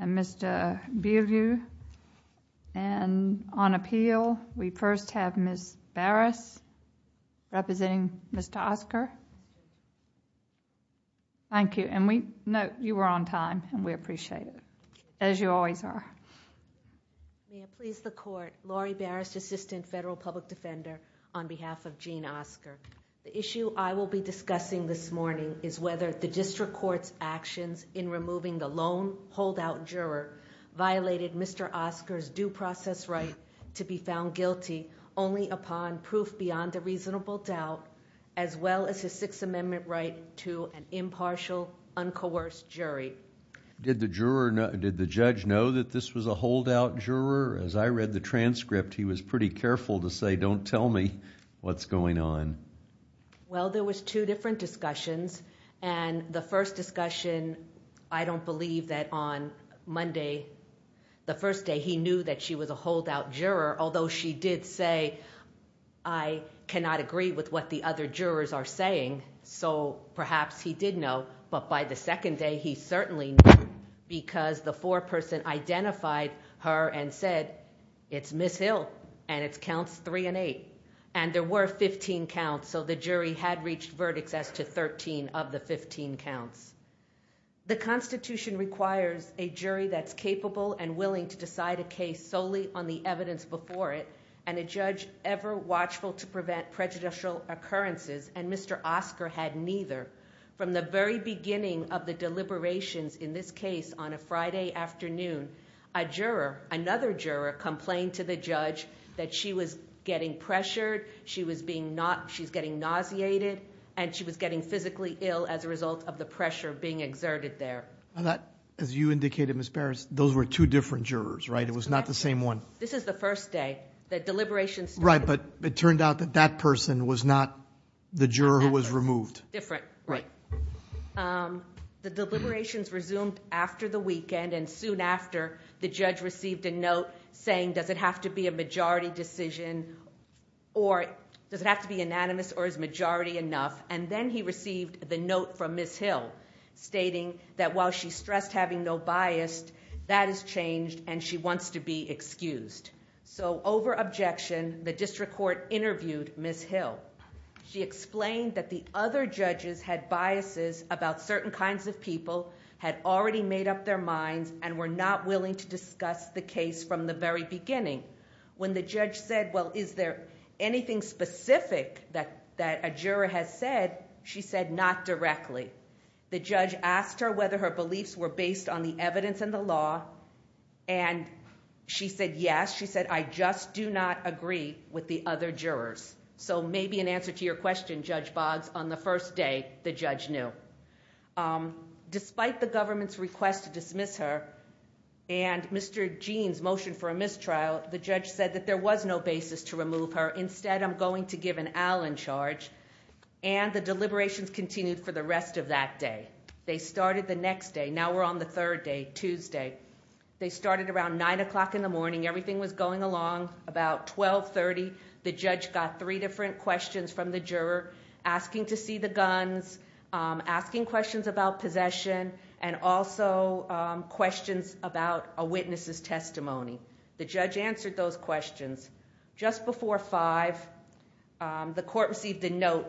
and Mr. Beaulieu. And on appeal we first have Ms. Barris representing Mr. Oscar. Thank you. And we know you were on time and we appreciate it, as you always are. May it please the Court, Laurie Barris, Assistant Federal Public Defender, on behalf of Jean Oscar. The issue I will be discussing this morning is whether the District Court's actions in removing the lone holdout juror violated Mr. Oscar's due process right to be found guilty only upon proof beyond a reasonable doubt, as well as his Sixth Amendment right to an impartial, uncoerced jury. Did the judge know that this was a holdout juror? As I read the transcript, he was pretty careful to say, don't tell me what's going on. Well, there was two different discussions, and the first discussion, I don't believe that on Monday, the first day he knew that she was a holdout juror, although she did say, I cannot agree with what the other jurors are saying, so perhaps he did know. But by the second day, he certainly knew, because the foreperson identified her and said, it's Ms. Hill, and it's counts three and eight. And there were 15 counts, so the jury had reached verdicts as to 13 of the 15 counts. The Constitution requires a jury that's capable and willing to decide a case solely on the evidence before it, and a judge ever watchful to prevent prejudicial occurrences, and Mr. Oscar had neither. From the very beginning of the deliberations in this case on a Friday afternoon, a juror, another juror, complained to the judge that she was getting pressured, she's getting nauseated, and she was getting physically ill as a result of the pressure being exerted there. As you indicated, Ms. Barris, those were two different jurors, right? It was not the same one. This is the first day. The deliberations started. Right, but it turned out that that person was not the juror who was removed. Different. Right. The deliberations resumed after the weekend, and soon after, the judge received a note saying, does it have to be a majority decision, or does it have to be anonymous, or is majority enough? And then he received the note from Ms. Hill stating that while she stressed having no bias, that has changed and she wants to be excused. So over objection, the district court interviewed Ms. Hill. She explained that the other judges had biases about certain kinds of people, had already made up their minds, and were not willing to discuss the case from the very beginning. When the judge said, well, is there anything specific that a juror has said? She said, not directly. The judge asked her whether her beliefs were based on the evidence in the law, and she said, yes, she said, I just do not agree with the other jurors. So maybe in answer to your question, Judge Boggs, on the first day, the judge knew. Despite the government's request to dismiss her and Mr. Jean's motion for a mistrial, the judge said that there was no basis to remove her. Instead, I'm going to give an al in charge. And the deliberations continued for the rest of that day. They started the next day. Now we're on the third day, Tuesday. They started around 9 o'clock in the morning. Everything was going along about 12, 30. The judge got three different questions from the juror, asking to see the guns, asking questions about possession, and also questions about a witness's testimony. The judge answered those questions. Just before 5, the court received a note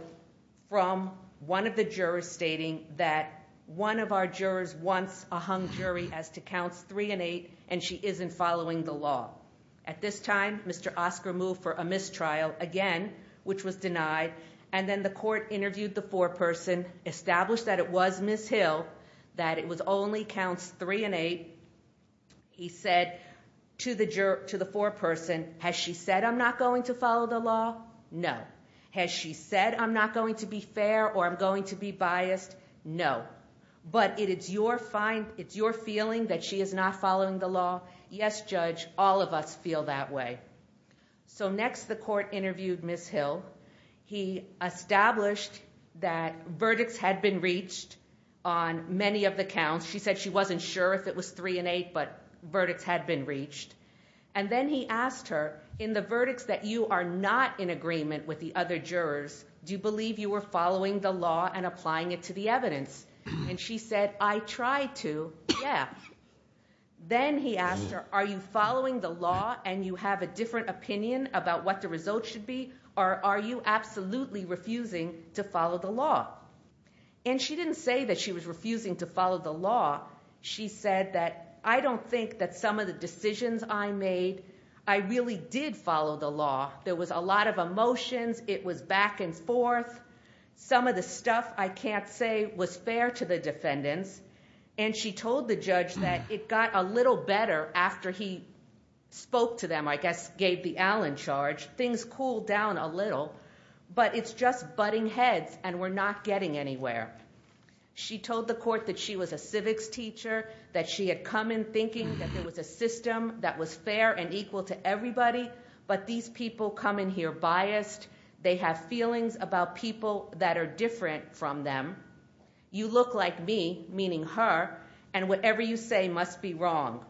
from one of the jurors stating that one of our jurors wants a hung jury as to counts 3 and 8, and she isn't following the law. At this time, Mr. Oscar moved for a mistrial, again, which was denied. And then the court interviewed the foreperson, established that it was Ms. Hill, that it only counts 3 and 8. He said to the foreperson, has she said I'm not going to follow the law? No. Has she said I'm not going to be fair or I'm going to be biased? No. But it is your feeling that she is not following the law? Yes, judge, all of us feel that way. So next the court interviewed Ms. Hill. He established that verdicts had been reached on many of the counts. She said she wasn't sure if it was 3 and 8, but verdicts had been reached. And then he asked her, in the verdicts that you are not in agreement with the other jurors, do you believe you were following the law and applying it to the evidence? And she said, I tried to, yeah. Then he asked her, are you following the law and you have a different opinion about what the result should be, or are you absolutely refusing to follow the law? And she didn't say that she was refusing to follow the law. She said that I don't think that some of the decisions I made, I really did follow the law. There was a lot of emotions. It was back and forth. Some of the stuff I can't say was fair to the defendants. And she told the judge that it got a little better after he spoke to them, I guess gave the Allen charge. Things cooled down a little, but it's just butting heads and we're not getting anywhere. She told the court that she was a civics teacher, that she had come in thinking that there was a system that was fair and equal to everybody, but these people come in here biased. They have feelings about people that are different from them. You look like me, meaning her, and whatever you say must be wrong.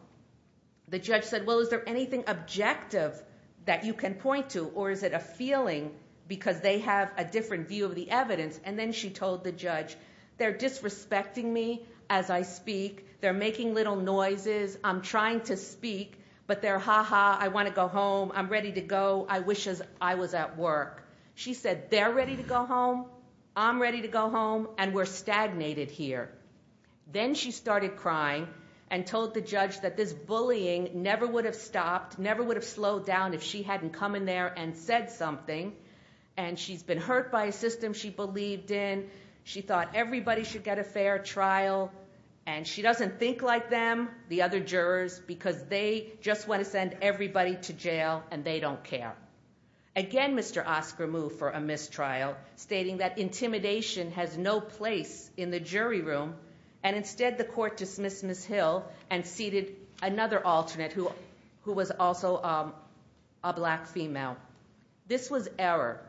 The judge said, well, is there anything objective that you can point to, or is it a feeling because they have a different view of the evidence? And then she told the judge, they're disrespecting me as I speak. They're making little noises. I'm trying to speak, but they're ha-ha, I want to go home, I'm ready to go. I wish I was at work. She said, they're ready to go home, I'm ready to go home, and we're stagnated here. Then she started crying and told the judge that this bullying never would have stopped, never would have slowed down if she hadn't come in there and said something, and she's been hurt by a system she believed in. She thought everybody should get a fair trial, and she doesn't think like them, the other jurors, because they just want to send everybody to jail and they don't care. Again, Mr. Oscar moved for a mistrial, stating that intimidation has no place in the jury room, and instead the court dismissed Ms. Hill and seated another alternate who was also a black female. This was error.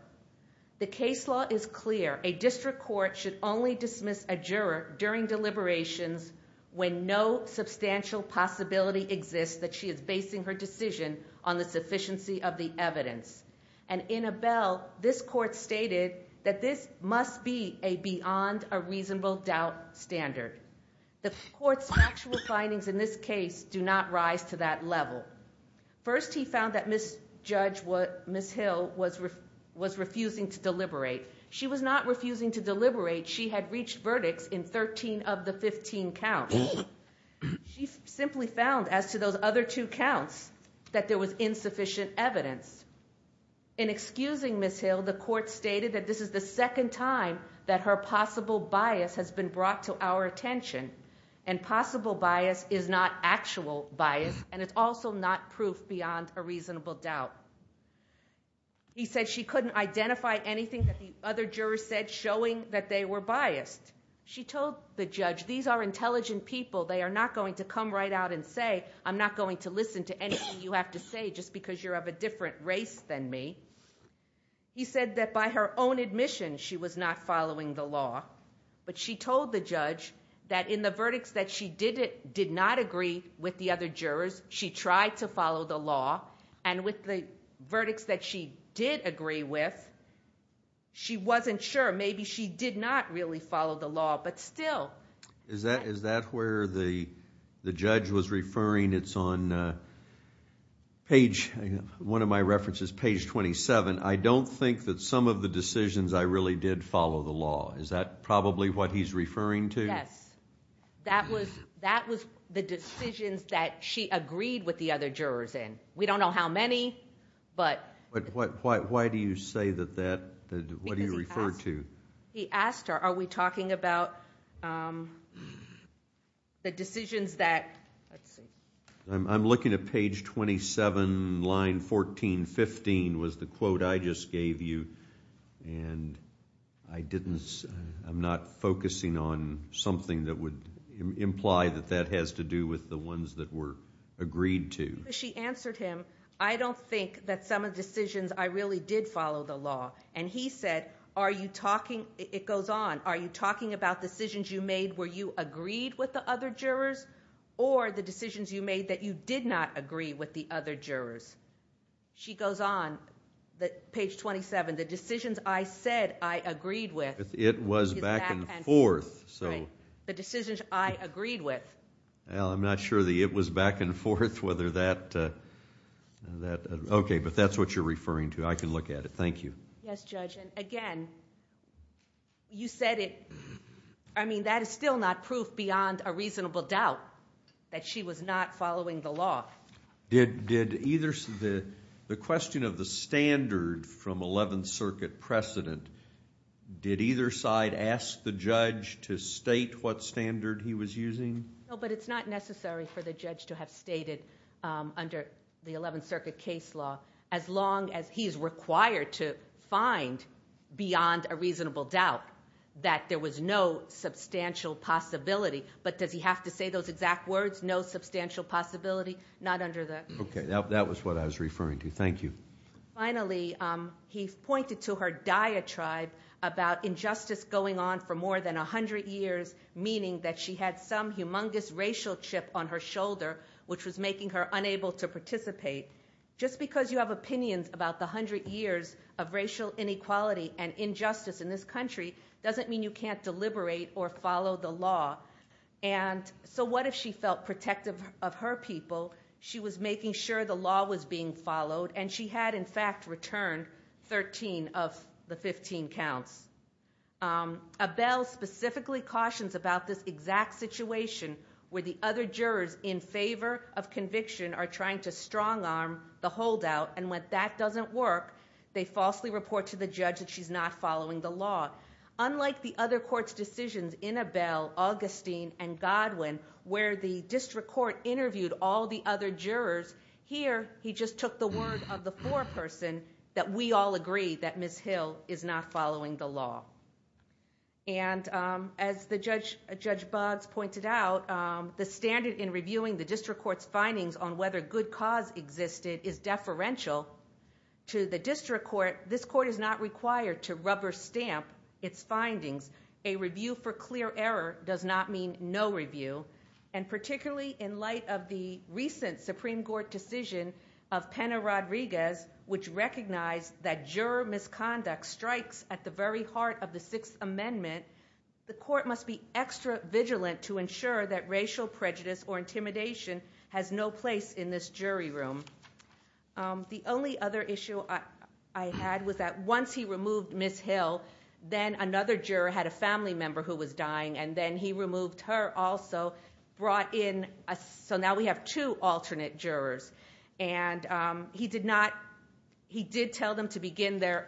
The case law is clear. A district court should only dismiss a juror during deliberations when no substantial possibility exists that she is basing her decision on the sufficiency of the evidence. And in Abel, this court stated that this must be a beyond a reasonable doubt standard. The court's factual findings in this case do not rise to that level. First, he found that Ms. Hill was refusing to deliberate. She was not refusing to deliberate. She had reached verdicts in 13 of the 15 counts. She simply found, as to those other two counts, that there was insufficient evidence. In excusing Ms. Hill, the court stated that this is the second time that her possible bias has been brought to our attention, and possible bias is not actual bias, and it's also not proof beyond a reasonable doubt. He said she couldn't identify anything that the other jurors said, showing that they were biased. She told the judge, these are intelligent people. They are not going to come right out and say, I'm not going to listen to anything you have to say just because you're of a different race than me. He said that by her own admission, she was not following the law, but she told the judge that in the verdicts that she did not agree with the other jurors, she tried to follow the law, and with the verdicts that she did agree with, she wasn't sure. Maybe she did not really follow the law, but still. Is that where the judge was referring? It's on page, one of my references, page 27. I don't think that some of the decisions I really did follow the law. Is that probably what he's referring to? Yes. That was the decisions that she agreed with the other jurors in. We don't know how many, but. Why do you say that that, what do you refer to? He asked her, are we talking about the decisions that, let's see. I'm looking at page 27, line 14, 15 was the quote I just gave you, and I didn't, I'm not focusing on something that would imply that that has to do with the ones that were agreed to. She answered him, I don't think that some of the decisions I really did follow the law, and he said, are you talking, it goes on, are you talking about decisions you made where you agreed with the other jurors, or the decisions you made that you did not agree with the other jurors? She goes on, page 27, the decisions I said I agreed with. It was back and forth. The decisions I agreed with. Well, I'm not sure the it was back and forth, whether that, okay, but that's what you're referring to. I can look at it. Thank you. Yes, Judge, and again, you said it. I mean, that is still not proof beyond a reasonable doubt that she was not following the law. Did either, the question of the standard from 11th Circuit precedent, did either side ask the judge to state what standard he was using? No, but it's not necessary for the judge to have stated under the 11th Circuit case law, as long as he is required to find beyond a reasonable doubt that there was no substantial possibility, but does he have to say those exact words, no substantial possibility? Not under the. Okay, that was what I was referring to. Thank you. Finally, he pointed to her diatribe about injustice going on for more than 100 years, meaning that she had some humongous racial chip on her shoulder, which was making her unable to participate. Just because you have opinions about the 100 years of racial inequality and injustice in this country doesn't mean you can't deliberate or follow the law. And so what if she felt protective of her people? She was making sure the law was being followed, and she had, in fact, returned 13 of the 15 counts. Abell specifically cautions about this exact situation where the other jurors in favor of conviction are trying to strong arm the holdout, and when that doesn't work, they falsely report to the judge that she's not following the law. Unlike the other court's decisions, Abell, Augustine, and Godwin, where the district court interviewed all the other jurors, here he just took the word of the foreperson that we all agree that Ms. Hill is not following the law. And as Judge Boggs pointed out, the standard in reviewing the district court's findings on whether good cause existed is deferential to the district court. This court is not required to rubber stamp its findings. A review for clear error does not mean no review. And particularly in light of the recent Supreme Court decision of Pena-Rodriguez, which recognized that juror misconduct strikes at the very heart of the Sixth Amendment, the court must be extra vigilant to ensure that racial prejudice or intimidation has no place in this jury room. The only other issue I had was that once he removed Ms. Hill, then another juror had a family member who was dying, and then he removed her also, so now we have two alternate jurors. And he did tell them to begin their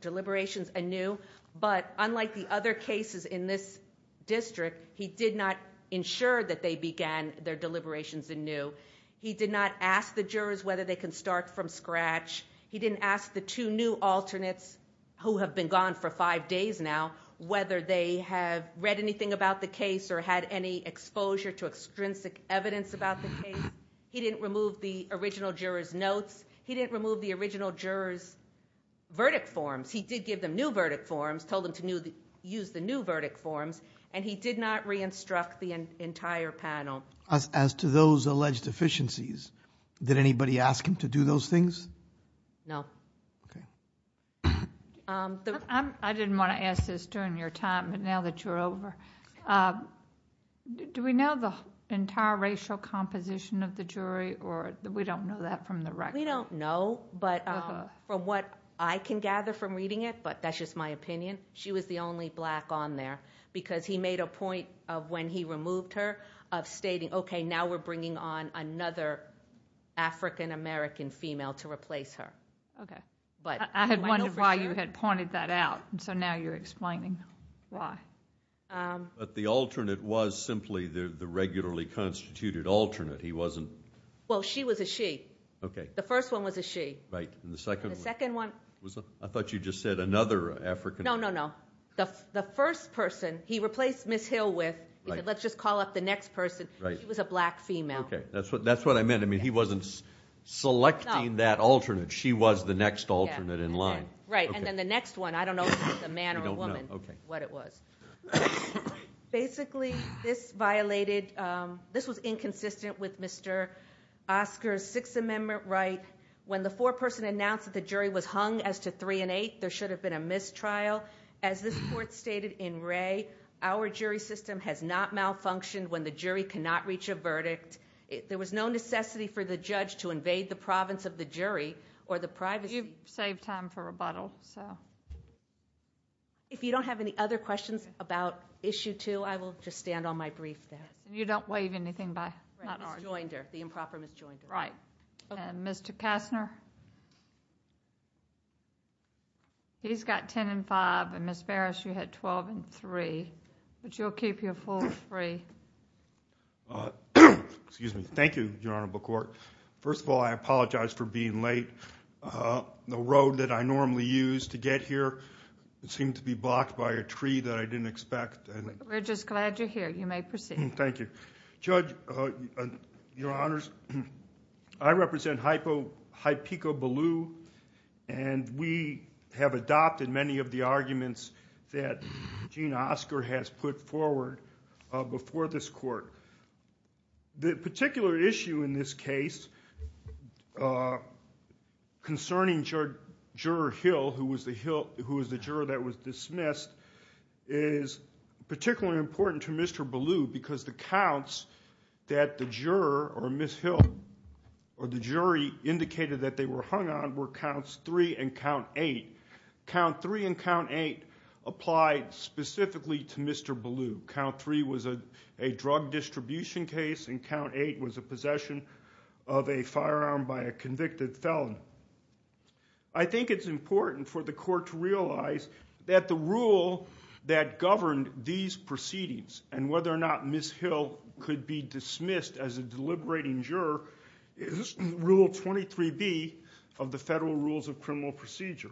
deliberations anew, but unlike the other cases in this district, he did not ensure that they began their deliberations anew. He did not ask the jurors whether they can start from scratch. He didn't ask the two new alternates who have been gone for five days now whether they have read anything about the case or had any exposure to extrinsic evidence about the case. He didn't remove the original jurors' notes. He didn't remove the original jurors' verdict forms. He did give them new verdict forms, told them to use the new verdict forms, and he did not re-instruct the entire panel. As to those alleged deficiencies, did anybody ask him to do those things? No. I didn't want to ask this during your time, but now that you're over, do we know the entire racial composition of the jury, or we don't know that from the record? We don't know, but from what I can gather from reading it, but that's just my opinion, she was the only black on there because he made a point of when he removed her of stating, okay, now we're bringing on another African-American female to replace her. I had wondered why you had pointed that out, so now you're explaining why. But the alternate was simply the regularly constituted alternate. He wasn't? Well, she was a she. Okay. The first one was a she. Right, and the second one? The second one was a? I thought you just said another African- No, no, no. The first person he replaced Ms. Hill with, let's just call up the next person, she was a black female. Okay, that's what I meant. I mean, he wasn't selecting that alternate. She was the next alternate in line. Right, and then the next one, I don't know if it was a man or a woman what it was. Basically, this violated, this was inconsistent with Mr. Oscar's Sixth Amendment right. When the foreperson announced that the jury was hung as to three and eight, there should have been a mistrial. As this court stated in Ray, our jury system has not malfunctioned when the jury cannot reach a verdict. There was no necessity for the judge to invade the province of the jury or the privacy. You've saved time for rebuttal, so. If you don't have any other questions about issue two, I will just stand on my brief there. You don't waive anything by? Ms. Joinder, the improper Ms. Joinder. Right. Okay. Mr. Kastner? He's got ten and five, and Ms. Barris, you had twelve and three. But you'll keep your full three. Excuse me. Thank you, Your Honorable Court. First of all, I apologize for being late. The road that I normally use to get here seemed to be blocked by a tree that I didn't expect. We're just glad you're here. You may proceed. Thank you. Judge, Your Honors, I represent Hypico-Ballou, and we have adopted many of the arguments that Gene Oscar has put forward before this court. The particular issue in this case concerning Juror Hill, who was the juror that was dismissed, is particularly important to Mr. Ballou because the counts that the juror or Ms. Hill or the jury indicated that they were hung on were counts three and count eight. Count three and count eight applied specifically to Mr. Ballou. Count three was a drug distribution case, and count eight was a possession of a firearm by a convicted felon. I think it's important for the court to realize that the rule that governed these proceedings and whether or not Ms. Hill could be dismissed as a deliberating juror is Rule 23B of the Federal Rules of Criminal Procedure.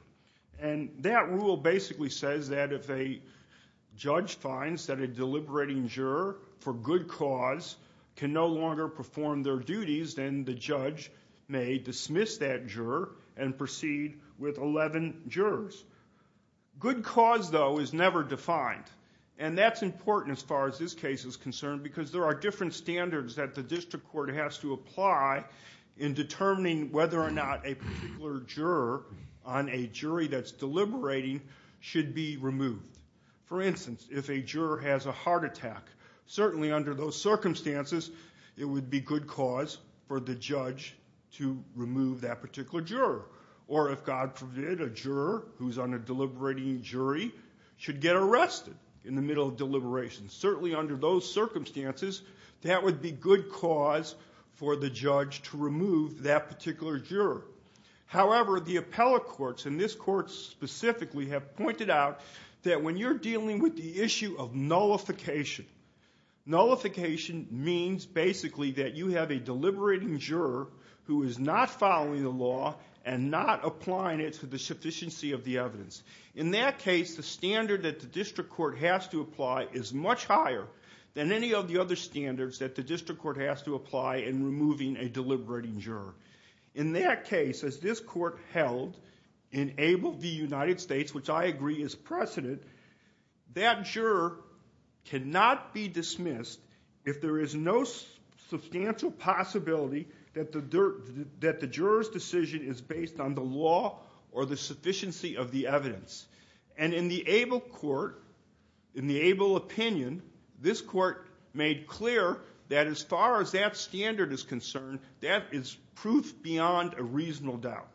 That rule basically says that if a judge finds that a deliberating juror for good cause can no longer perform their duties, then the judge may dismiss that juror and proceed with 11 jurors. Good cause, though, is never defined, and that's important as far as this case is concerned because there are different standards that the district court has to apply in determining whether or not a particular juror on a jury that's deliberating should be removed. For instance, if a juror has a heart attack, certainly under those circumstances it would be good cause for the judge to remove that particular juror. Or, if God forbid, a juror who's on a deliberating jury should get arrested in the middle of deliberation. Certainly under those circumstances, that would be good cause for the judge to remove that particular juror. However, the appellate courts, and this court specifically, have pointed out that when you're dealing with the issue of nullification, nullification means basically that you have a deliberating juror who is not following the law and not applying it to the sufficiency of the evidence. In that case, the standard that the district court has to apply is much higher than any of the other standards that the district court has to apply in removing a deliberating juror. In that case, as this court held in Abel v. United States, which I agree is precedent, that juror cannot be dismissed if there is no substantial possibility that the juror's decision is based on the law or the sufficiency of the evidence. And in the Abel court, in the Abel opinion, this court made clear that as far as that standard is concerned, that is proof beyond a reasonable doubt.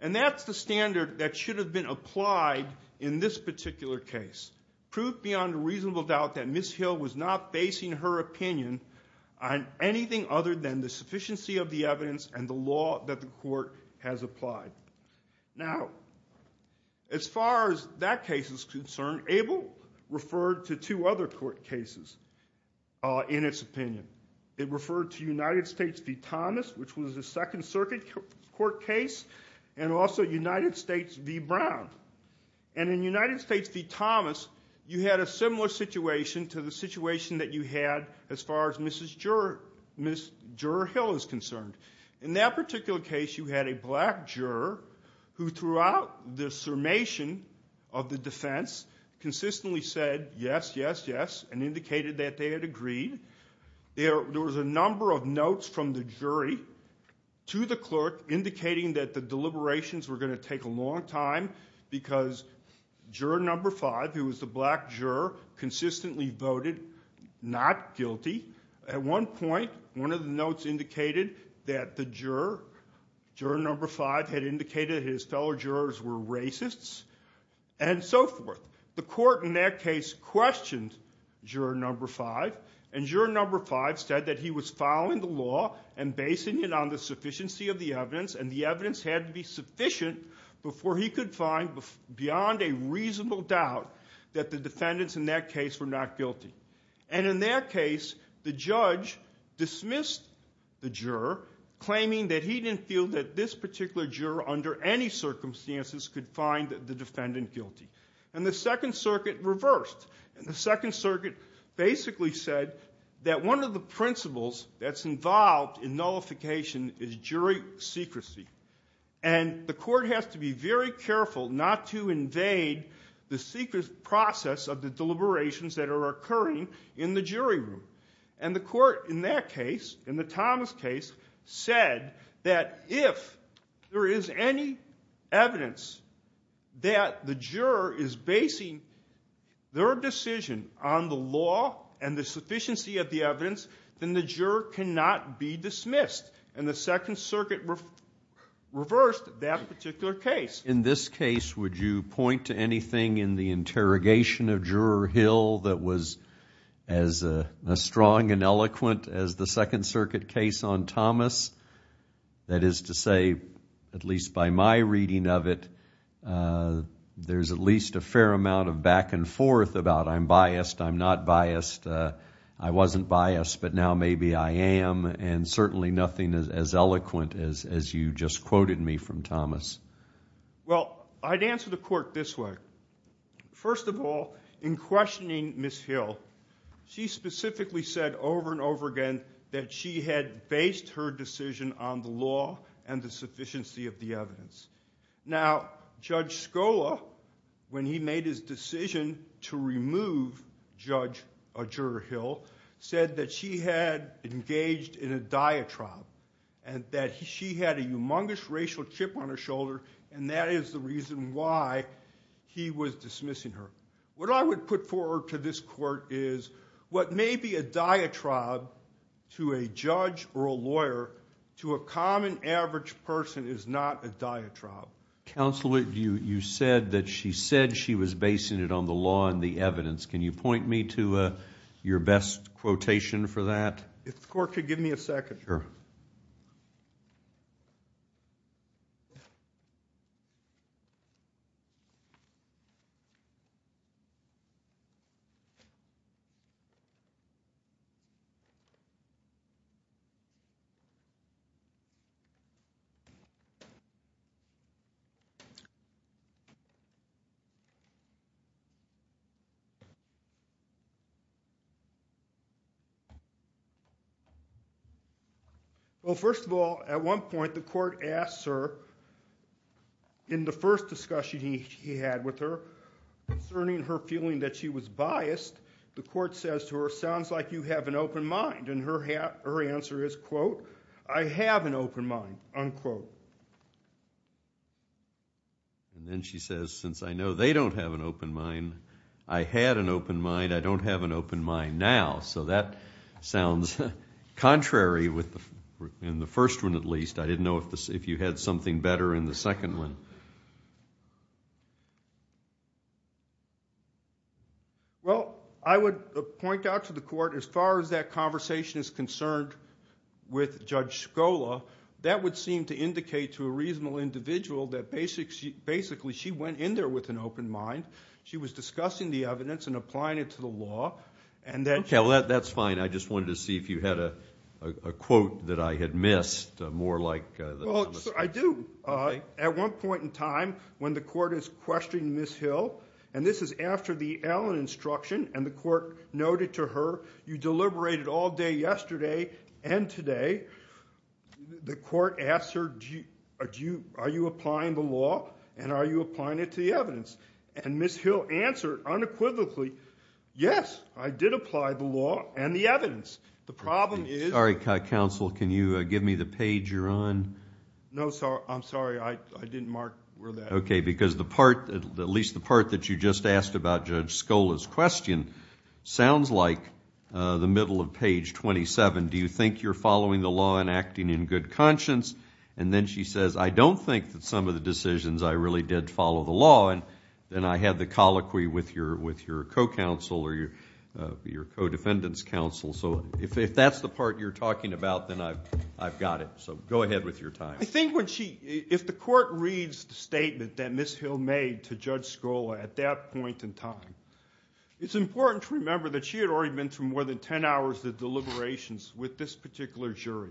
And that's the standard that should have been applied in this particular case. Proof beyond a reasonable doubt that Ms. Hill was not basing her opinion on anything other than the sufficiency of the evidence and the law that the court has applied. Now, as far as that case is concerned, Abel referred to two other court cases in its opinion. It referred to United States v. Thomas, which was a Second Circuit court case, and also United States v. Brown. And in United States v. Thomas, you had a similar situation to the situation that you had as far as Ms. Juror Hill is concerned. In that particular case, you had a black juror who throughout the summation of the defense consistently said yes, yes, yes, and indicated that they had agreed. There was a number of notes from the jury to the clerk indicating that the deliberations were going to take a long time because juror number five, who was the black juror, consistently voted not guilty. At one point, one of the notes indicated that the juror, juror number five, had indicated his fellow jurors were racists and so forth. The court in that case questioned juror number five, and juror number five said that he was following the law and basing it on the sufficiency of the evidence, and the evidence had to be sufficient before he could find beyond a reasonable doubt that the defendants in that case were not guilty. And in that case, the judge dismissed the juror, claiming that he didn't feel that this particular juror under any circumstances could find the defendant guilty. And the Second Circuit reversed. The Second Circuit basically said that one of the principles that's involved in nullification is jury secrecy, and the court has to be very careful not to invade the secret process of the deliberations that are occurring in the jury room. And the court in that case, in the Thomas case, said that if there is any evidence that the juror is basing their decision on the law and the sufficiency of the evidence, then the juror cannot be dismissed, and the Second Circuit reversed that particular case. In this case, would you point to anything in the interrogation of Juror Hill that was as strong and eloquent as the Second Circuit case on Thomas? That is to say, at least by my reading of it, there's at least a fair amount of back and forth about I'm biased, I'm not biased, I wasn't biased, but now maybe I am, and certainly nothing as eloquent as you just quoted me from Thomas. Well, I'd answer the court this way. First of all, in questioning Ms. Hill, she specifically said over and over again that she had based her decision on the law and the sufficiency of the evidence. Now, Judge Scola, when he made his decision to remove Judge Juror Hill, said that she had engaged in a diatribe and that she had a humongous racial chip on her shoulder, and that is the reason why he was dismissing her. What I would put forward to this court is what may be a diatribe to a judge or a lawyer, to a common average person is not a diatribe. Counsel, you said that she said she was basing it on the law and the evidence. Can you point me to your best quotation for that? If the court could give me a second. Sure. Well, first of all, at one point the court asked her, in the first discussion he had with her, concerning her feeling that she was biased, the court says to her, and her answer is, quote, I have an open mind, unquote. And then she says, since I know they don't have an open mind, I had an open mind, I don't have an open mind now. So that sounds contrary in the first one at least. I didn't know if you had something better in the second one. Well, I would point out to the court, as far as that conversation is concerned with Judge Shkola, that would seem to indicate to a reasonable individual that basically she went in there with an open mind. She was discussing the evidence and applying it to the law. Okay, well, that's fine. I just wanted to see if you had a quote that I had missed, more like the comment. Well, I do. At one point in time when the court is questioning Ms. Hill, and this is after the Allen instruction, and the court noted to her, you deliberated all day yesterday and today, the court asked her, are you applying the law and are you applying it to the evidence? And Ms. Hill answered unequivocally, yes, I did apply the law and the evidence. The problem is ‑‑ Sorry, counsel, can you give me the page you're on? No, I'm sorry. I didn't mark where that is. Okay, because the part, at least the part that you just asked about Judge Shkola's question, sounds like the middle of page 27. Do you think you're following the law and acting in good conscience? And then she says, I don't think that some of the decisions I really did follow the law, and then I had the colloquy with your co‑counsel or your co‑defendant's counsel. So if that's the part you're talking about, then I've got it. So go ahead with your time. I think if the court reads the statement that Ms. Hill made to Judge Shkola at that point in time, it's important to remember that she had already been through more than ten hours of deliberations with this particular jury.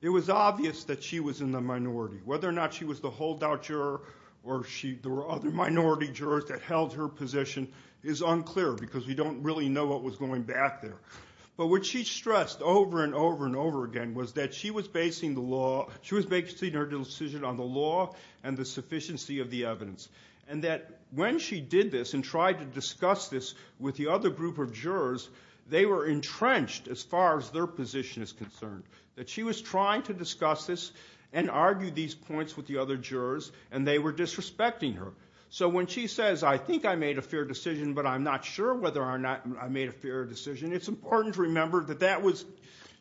It was obvious that she was in the minority. Whether or not she was the holdout juror or there were other minority jurors that held her position is unclear because we don't really know what was going back there. But what she stressed over and over and over again was that she was basing her decision on the law and the sufficiency of the evidence, and that when she did this and tried to discuss this with the other group of jurors, they were entrenched as far as their position is concerned, that she was trying to discuss this and argue these points with the other jurors, and they were disrespecting her. So when she says, I think I made a fair decision, but I'm not sure whether or not I made a fair decision, it's important to remember that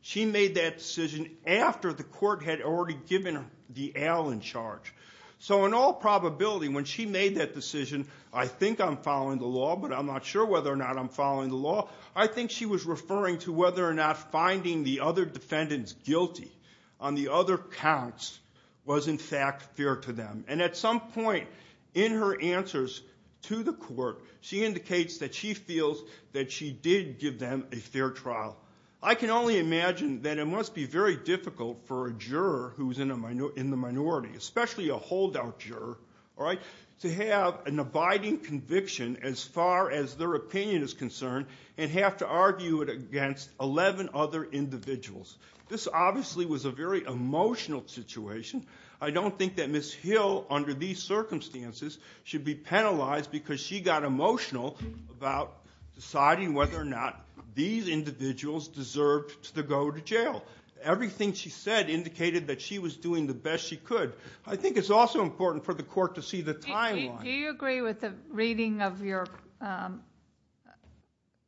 she made that decision after the court had already given the al in charge. So in all probability, when she made that decision, I think I'm following the law but I'm not sure whether or not I'm following the law, I think she was referring to whether or not finding the other defendants guilty on the other counts was in fact fair to them. And at some point in her answers to the court, she indicates that she feels that she did give them a fair trial. I can only imagine that it must be very difficult for a juror who's in the minority, especially a holdout juror, all right, to have an abiding conviction as far as their opinion is concerned and have to argue it against 11 other individuals. This obviously was a very emotional situation. I don't think that Ms. Hill, under these circumstances, should be penalized because she got emotional about deciding whether or not these individuals deserved to go to jail. Everything she said indicated that she was doing the best she could. I think it's also important for the court to see the timeline. Do you agree with the reading of your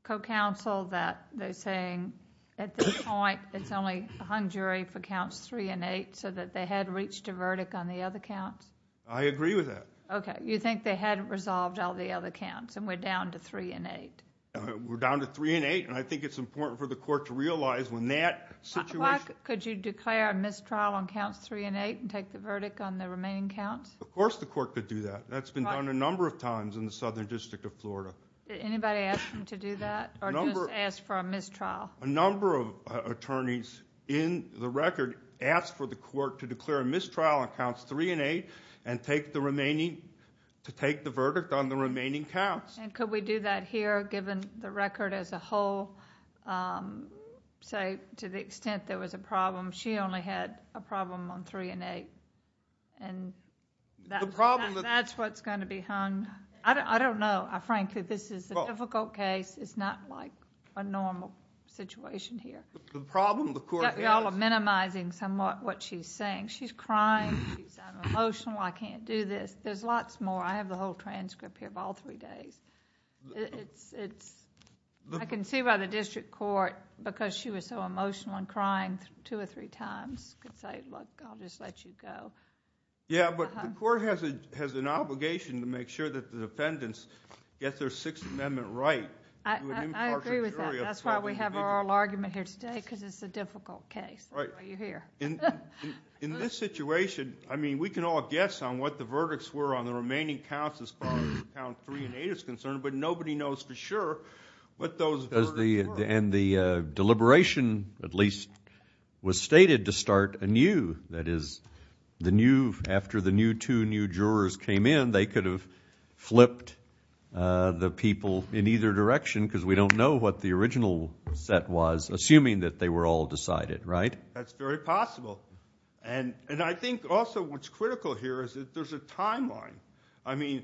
co-counsel that they're saying at this point it's only hung jury for counts three and eight so that they had reached a verdict on the other counts? I agree with that. Okay. You think they hadn't resolved all the other counts and we're down to three and eight? We're down to three and eight, and I think it's important for the court to realize when that situation Why could you declare a mistrial on counts three and eight and take the verdict on the remaining counts? Of course the court could do that. That's been done a number of times in the Southern District of Florida. Did anybody ask them to do that or just ask for a mistrial? A number of attorneys in the record asked for the court to declare a mistrial on counts three and eight and to take the verdict on the remaining counts. Could we do that here given the record as a whole? To the extent there was a problem, she only had a problem on three and eight, and that's what's going to be hung. I don't know. Frankly, this is a difficult case. It's not like a normal situation here. The problem the court has— You all are minimizing somewhat what she's saying. She's crying. She's emotional. I can't do this. There's lots more. I have the whole transcript here of all three days. I can see why the district court, because she was so emotional and crying two or three times, could say, Look, I'll just let you go. Yeah, but the court has an obligation to make sure that the defendants get their Sixth Amendment right. I agree with that. That's why we have our oral argument here today, because it's a difficult case. That's why you're here. In this situation, I mean, we can all guess on what the verdicts were on the remaining counts as far as count three and eight is concerned, but nobody knows for sure what those verdicts were. And the deliberation, at least, was stated to start anew. That is, after the new two new jurors came in, they could have flipped the people in either direction, because we don't know what the original set was, assuming that they were all decided, right? That's very possible. And I think also what's critical here is that there's a timeline. I mean,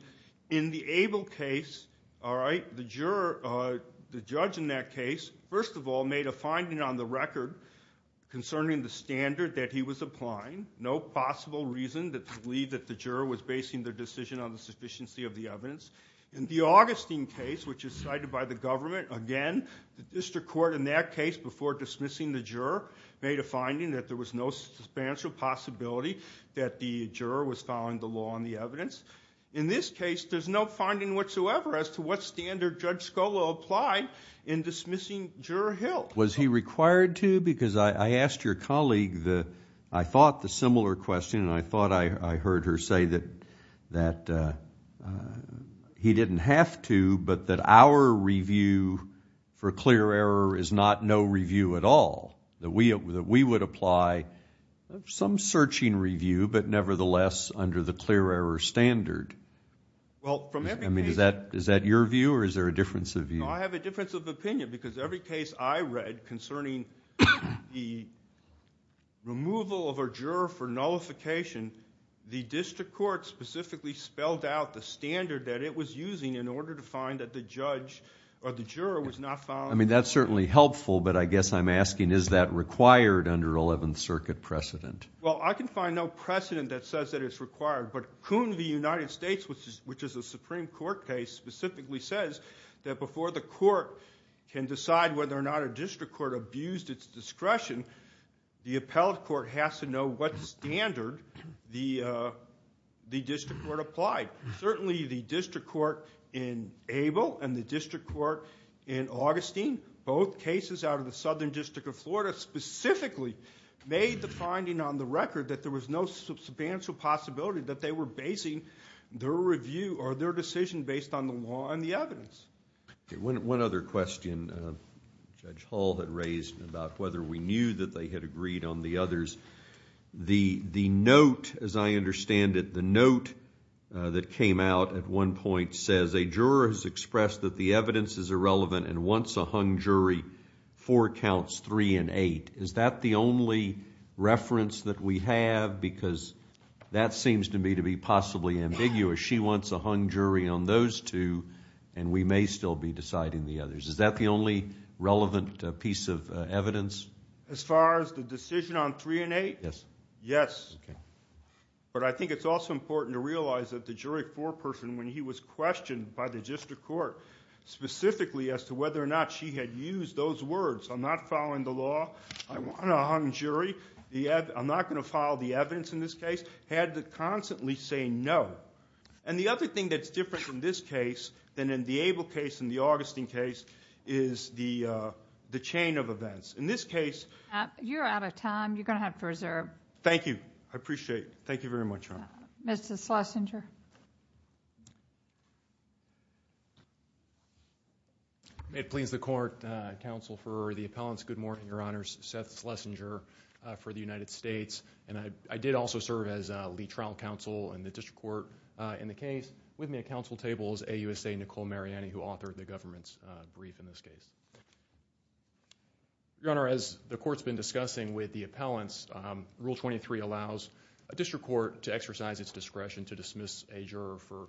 in the Abel case, all right, the judge in that case, first of all, made a finding on the record concerning the standard that he was applying, no possible reason to believe that the juror was basing their decision on the sufficiency of the evidence. In the Augustine case, which is cited by the government, again, the district court in that case, before dismissing the juror, made a finding that there was no substantial possibility that the juror was following the law on the evidence. In this case, there's no finding whatsoever as to what standard Judge Scola applied in dismissing Juror Hill. Was he required to? Because I asked your colleague the, I thought, the similar question, and I thought I heard her say that he didn't have to, but that our review for clear error is not no review at all, that we would apply some searching review, but nevertheless, under the clear error standard. I mean, is that your view, or is there a difference of view? No, I have a difference of opinion, because every case I read concerning the removal of a juror for nullification, the district court specifically spelled out the standard that it was using in order to find that the judge or the juror was not following. I mean, that's certainly helpful, but I guess I'm asking, is that required under 11th Circuit precedent? Well, I can find no precedent that says that it's required. But Coon v. United States, which is a Supreme Court case, specifically says that before the court can decide whether or not a district court abused its discretion, the appellate court has to know what standard the district court applied. Certainly, the district court in Abel and the district court in Augustine, made the finding on the record that there was no substantial possibility that they were basing their review or their decision based on the law and the evidence. One other question Judge Hall had raised about whether we knew that they had agreed on the others. The note, as I understand it, the note that came out at one point says, a juror has expressed that the evidence is irrelevant and wants a hung jury, four counts, three and eight. Is that the only reference that we have? Because that seems to me to be possibly ambiguous. She wants a hung jury on those two, and we may still be deciding the others. Is that the only relevant piece of evidence? As far as the decision on three and eight, yes. But I think it's also important to realize that the jury foreperson, when he was questioned by the district court, specifically as to whether or not she had used those words, I'm not following the law, I want a hung jury, I'm not going to follow the evidence in this case, had to constantly say no. And the other thing that's different in this case than in the Abel case and the Augustine case is the chain of events. In this case... You're out of time. You're going to have to reserve. Thank you. I appreciate it. Thank you very much, Your Honor. Mr. Schlesinger. May it please the court, counsel for the appellants, good morning, Your Honor. Seth Schlesinger for the United States. And I did also serve as lead trial counsel in the district court in the case. With me at counsel table is AUSA Nicole Mariani, who authored the government's brief in this case. Your Honor, as the court's been discussing with the appellants, Rule 23 allows a district court to exercise its discretion to dismiss a juror for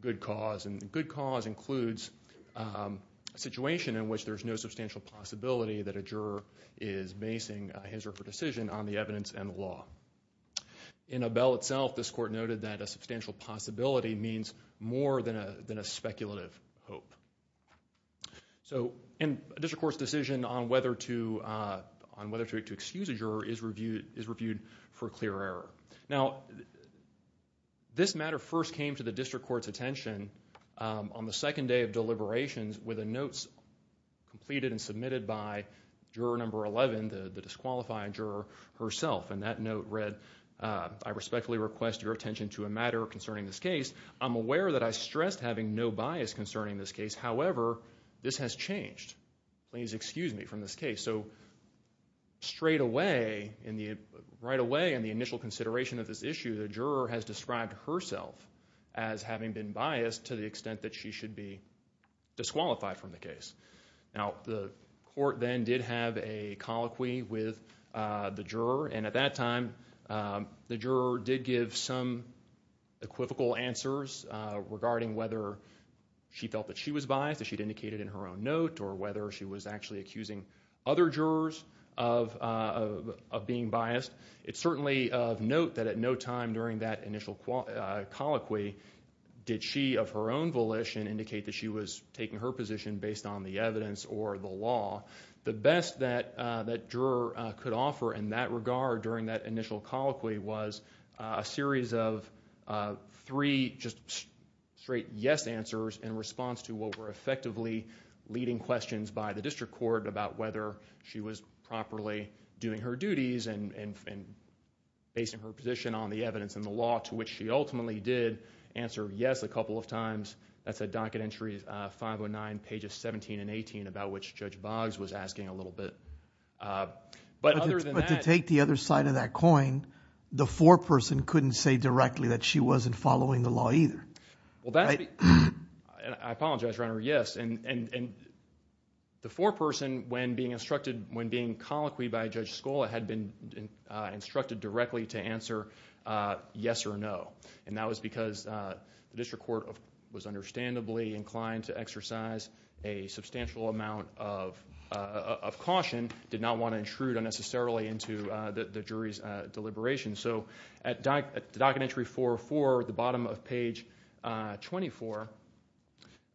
good cause. And good cause includes a situation in which there's no substantial possibility that a juror is basing his or her decision on the evidence and the law. In Abel itself, this court noted that a substantial possibility means more than a speculative hope. So a district court's decision on whether to excuse a juror is reviewed for clear error. Now, this matter first came to the district court's attention on the second day of deliberations with a note completed and submitted by juror number 11, the disqualified juror herself. And that note read, I respectfully request your attention to a matter concerning this case. I'm aware that I stressed having no bias concerning this case. However, this has changed. Please excuse me from this case. So straight away, right away in the initial consideration of this issue, the juror has described herself as having been biased to the extent that she should be disqualified from the case. Now, the court then did have a colloquy with the juror. And at that time, the juror did give some equivocal answers regarding whether she felt that she was biased, as she'd indicated in her own note, or whether she was actually accusing other jurors of being biased. It's certainly of note that at no time during that initial colloquy did she, of her own volition, indicate that she was taking her position based on the evidence or the law. The best that that juror could offer in that regard during that initial colloquy was a series of three just straight yes answers in response to what were effectively leading questions by the district court about whether she was properly doing her duties and basing her position on the evidence and the law, to which she ultimately did answer yes a couple of times. That's at docket entries 509, pages 17 and 18, about which Judge Boggs was asking a little bit. But other than that – But to take the other side of that coin, the foreperson couldn't say directly that she wasn't following the law either. Well, that's – I apologize, Your Honor, yes. And the foreperson, when being instructed – when being colloquied by Judge Scola had been instructed directly to answer yes or no. And that was because the district court was understandably inclined to exercise a substantial amount of caution, did not want to intrude unnecessarily into the jury's deliberation. So at docket entry 404, at the bottom of page 24,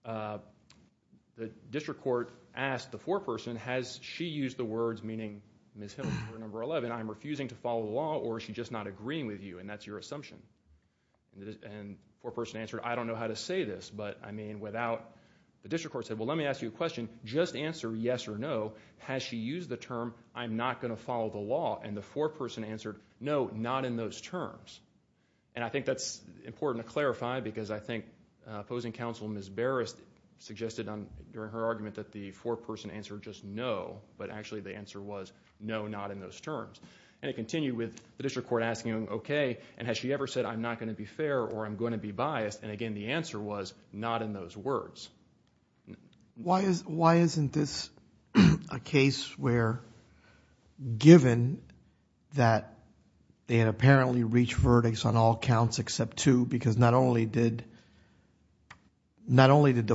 the district court asked the foreperson, has she used the words meaning Ms. Hill, juror number 11, I'm refusing to follow the law, or is she just not agreeing with you, and that's your assumption. And the foreperson answered, I don't know how to say this, but I mean without – the district court said, well, let me ask you a question. Just answer yes or no. Has she used the term, I'm not going to follow the law? And the foreperson answered, no, not in those terms. And I think that's important to clarify because I think opposing counsel Ms. Barrist suggested during her argument that the foreperson answered just no, but actually the answer was no, not in those terms. And it continued with the district court asking, okay, and has she ever said I'm not going to be fair or I'm going to be biased? And again, the answer was not in those words. Why isn't this a case where given that they had apparently reached verdicts on all counts except two because not only did the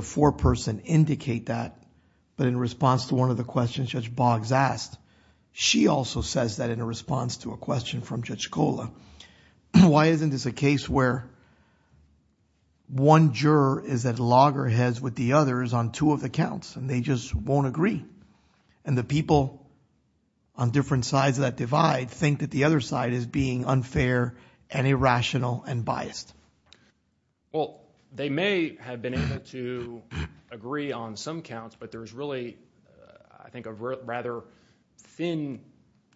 foreperson indicate that, but in response to one of the questions Judge Boggs asked, she also says that in response to a question from Judge Kola, why isn't this a case where one juror is at loggerheads with the others on two of the counts and they just won't agree? And the people on different sides of that divide think that the other side is being unfair and irrational and biased. Well, they may have been able to agree on some counts, but there's really I think a rather thin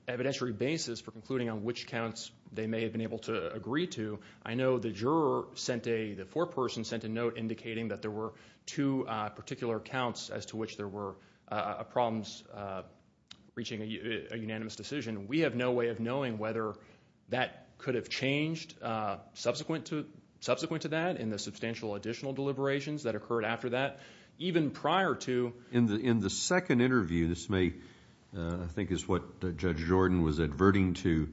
evidentiary basis for concluding on which counts they may have been able to agree to. I know the juror sent a – the foreperson sent a note indicating that there were two particular counts as to which there were problems reaching a unanimous decision. We have no way of knowing whether that could have changed subsequent to that in the substantial additional deliberations that occurred after that. Even prior to – In the second interview, this may – I think is what Judge Jordan was adverting to.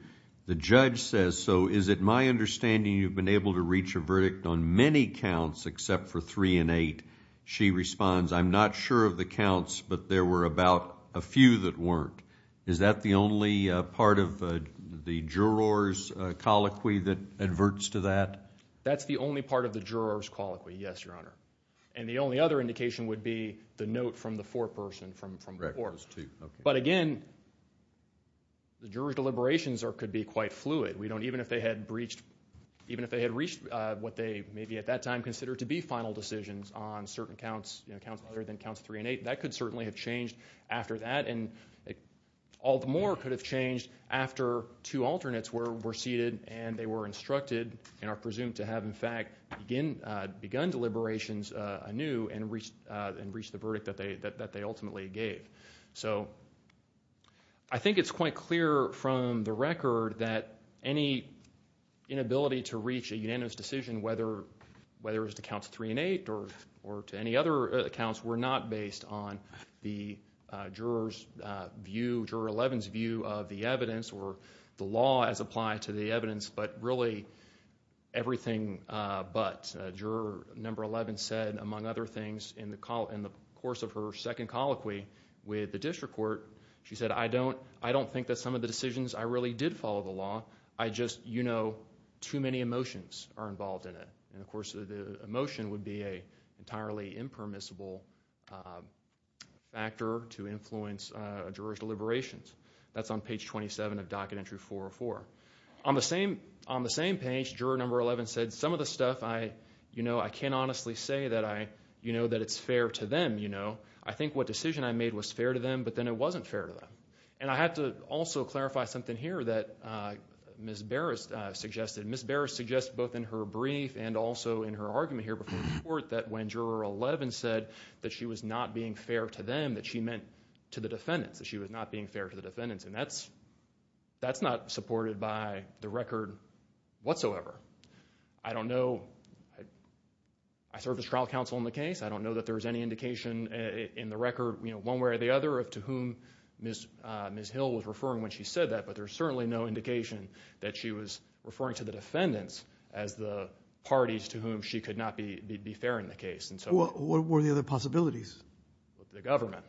The judge says, so is it my understanding you've been able to reach a verdict on many counts except for three and eight? She responds, I'm not sure of the counts, but there were about a few that weren't. Is that the only part of the juror's colloquy that adverts to that? That's the only part of the juror's colloquy, yes, Your Honor. And the only other indication would be the note from the foreperson from before. But again, the juror's deliberations could be quite fluid. We don't – even if they had breached – even if they had reached what they maybe at that time considered to be final decisions on certain counts, other than counts three and eight, that could certainly have changed after that. And all the more could have changed after two alternates were seated and they were instructed and are presumed to have, in fact, begun deliberations anew and reached the verdict that they ultimately gave. So I think it's quite clear from the record that any inability to reach a unanimous decision, whether it was to counts three and eight or to any other accounts, were not based on the juror's view, Juror 11's view of the evidence or the law as applied to the evidence, but really everything but. As Juror 11 said, among other things, in the course of her second colloquy with the district court, she said, I don't think that some of the decisions I really did follow the law. I just, you know, too many emotions are involved in it. And of course the emotion would be an entirely impermissible factor to influence a juror's deliberations. That's on page 27 of Docket Entry 404. On the same page, Juror 11 said, some of the stuff I can't honestly say that it's fair to them. I think what decision I made was fair to them, but then it wasn't fair to them. And I have to also clarify something here that Ms. Barris suggested. Ms. Barris suggested both in her brief and also in her argument here before the court that when Juror 11 said that she was not being fair to them, that she meant to the defendants, that she was not being fair to the defendants, and that's not supported by the record whatsoever. I don't know. I served as trial counsel in the case. I don't know that there's any indication in the record one way or the other of to whom Ms. Hill was referring when she said that, but there's certainly no indication that she was referring to the defendants as the parties to whom she could not be fair in the case. What were the other possibilities? The government.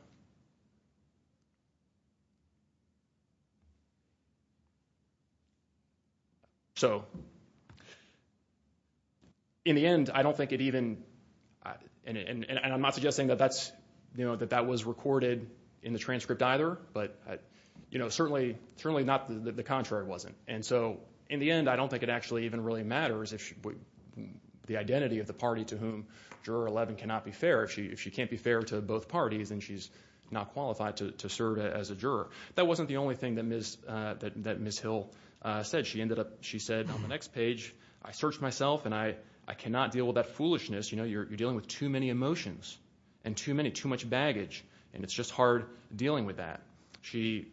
So in the end, I don't think it even – and I'm not suggesting that that was recorded in the transcript either, but certainly not that the contrary wasn't. And so in the end, I don't think it actually even really matters the identity of the party to whom Juror 11 cannot be fair. If she can't be fair to both parties, then she's not qualified to serve as a juror. That wasn't the only thing that Ms. Hill said. She ended up – she said on the next page, I searched myself and I cannot deal with that foolishness. You're dealing with too many emotions and too much baggage, and it's just hard dealing with that. She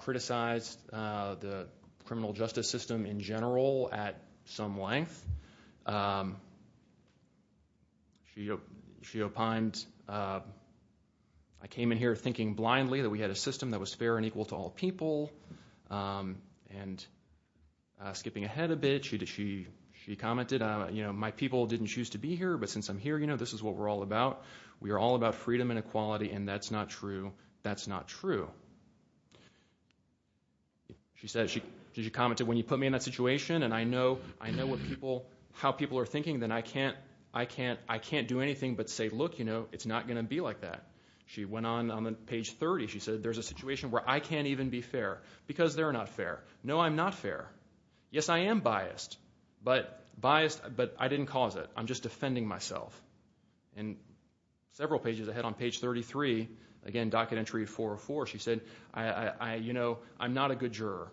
criticized the criminal justice system in general at some length. She opined, I came in here thinking blindly that we had a system that was fair and equal to all people. And skipping ahead a bit, she commented, my people didn't choose to be here, but since I'm here, this is what we're all about. We are all about freedom and equality, and that's not true. She commented, when you put me in that situation, and I know how people are thinking, then I can't do anything but say, look, it's not going to be like that. She went on, on page 30, she said, there's a situation where I can't even be fair because they're not fair. No, I'm not fair. Yes, I am biased, but I didn't cause it. I'm just defending myself. And several pages ahead on page 33, again, she said, you know, I'm not a good juror.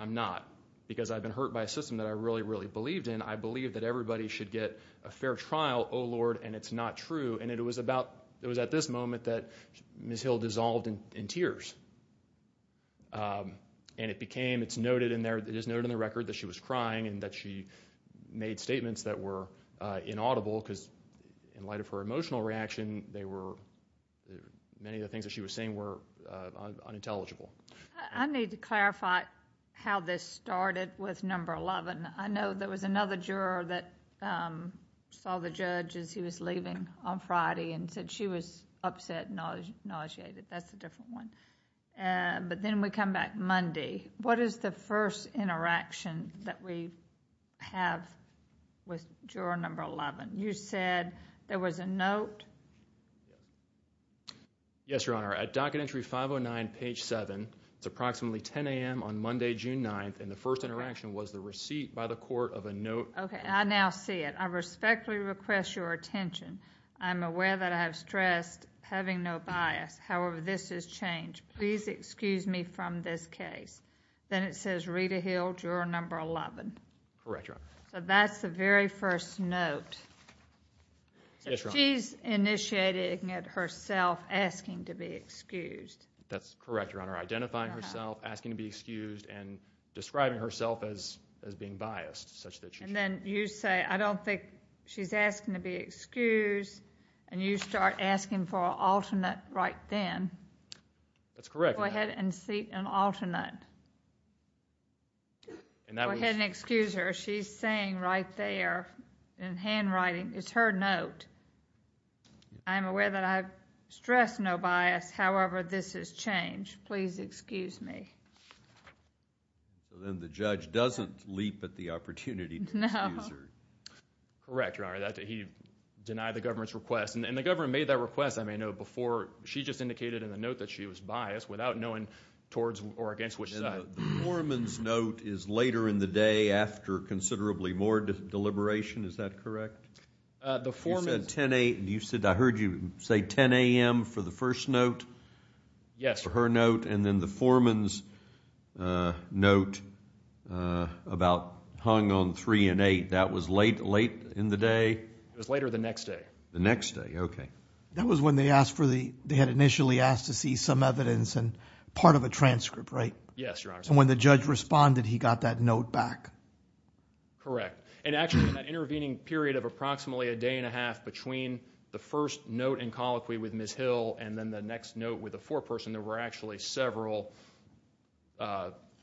I'm not, because I've been hurt by a system that I really, really believed in. I believe that everybody should get a fair trial. Oh, Lord, and it's not true. And it was at this moment that Ms. Hill dissolved in tears. And it is noted in the record that she was crying and that she made statements that were inaudible because in light of her emotional reaction, many of the things that she was saying were unintelligible. I need to clarify how this started with number 11. I know there was another juror that saw the judge as he was leaving on Friday and said she was upset and nauseated. That's a different one. But then we come back Monday. What is the first interaction that we have with juror number 11? You said there was a note. Yes, Your Honor. At docket entry 509, page 7, it's approximately 10 a.m. on Monday, June 9th, and the first interaction was the receipt by the court of a note. Okay, I now see it. I respectfully request your attention. I'm aware that I have stressed having no bias. However, this has changed. Please excuse me from this case. Then it says Rita Hill, juror number 11. Correct, Your Honor. So that's the very first note. Yes, Your Honor. She's initiating it herself asking to be excused. That's correct, Your Honor. Identifying herself, asking to be excused, and describing herself as being biased such that she should be. And then you say, I don't think she's asking to be excused, and you start asking for an alternate right then. That's correct, Your Honor. Go ahead and seek an alternate. Go ahead and excuse her. What she's saying right there in handwriting is her note. I'm aware that I've stressed no bias. However, this has changed. Please excuse me. Then the judge doesn't leap at the opportunity to excuse her. No. Correct, Your Honor. He denied the government's request. And the government made that request, I may note, before she just indicated in the note that she was biased without knowing towards or against which side. The foreman's note is later in the day after considerably more deliberation. Is that correct? The foreman's. You said 10 a.m. I heard you say 10 a.m. for the first note. Yes. For her note. And then the foreman's note about hung on 3 and 8. That was late in the day? It was later the next day. The next day. Okay. That was when they had initially asked to see some evidence and part of a transcript, right? Yes, Your Honor. And when the judge responded, he got that note back? Correct. And actually in that intervening period of approximately a day and a half between the first note and colloquy with Ms. Hill and then the next note with the foreperson, there were actually several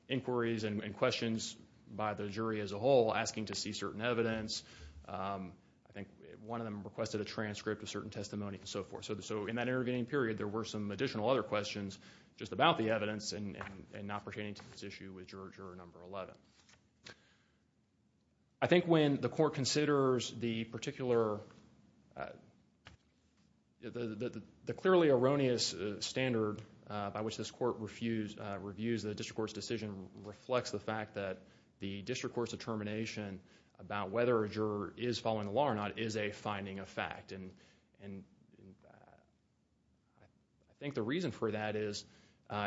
inquiries and questions by the jury as a whole asking to see certain evidence. I think one of them requested a transcript of certain testimony and so forth. So in that intervening period, there were some additional other questions just about the evidence and not pertaining to this issue with juror number 11. I think when the court considers the particularly erroneous standard by which this court reviews the district court's decision reflects the fact that the district court's determination about whether a juror is following the law or not is a finding of fact. I think the reason for that is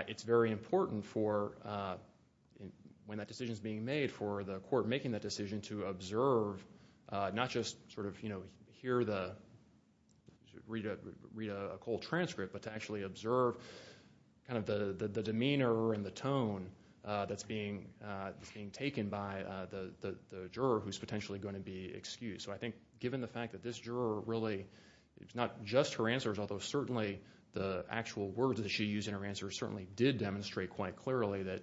it's very important for when that decision is being made for the court making that decision to observe, not just sort of hear the read a cold transcript, but to actually observe kind of the demeanor and the tone that's being taken by the juror who's potentially going to be excused. So I think given the fact that this juror really, it's not just her answers although certainly the actual words that she used in her answers certainly did demonstrate quite clearly that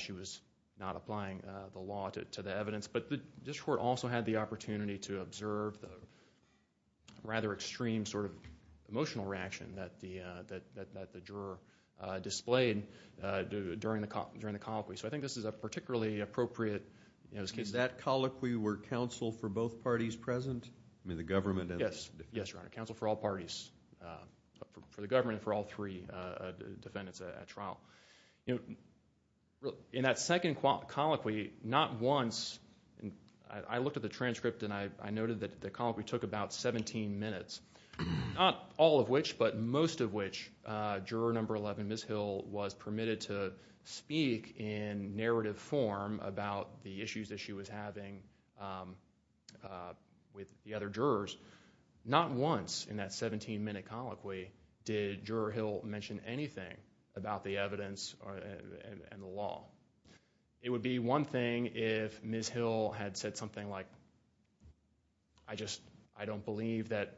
she was not applying the law to the evidence. But the district court also had the opportunity to observe the rather extreme sort of emotional reaction that the juror displayed during the colloquy. So I think this is a particularly appropriate case. Was that colloquy where counsel for both parties present? Yes, counsel for all parties, for the government and for all three defendants at trial. In that second colloquy, not once, I looked at the transcript and I noted that the colloquy took about 17 minutes, not all of which but most of which, juror number 11, Ms. Hill, was permitted to speak in narrative form about the issues that she was having with the other jurors. Not once in that 17-minute colloquy did Juror Hill mention anything about the evidence and the law. It would be one thing if Ms. Hill had said something like, I just don't believe that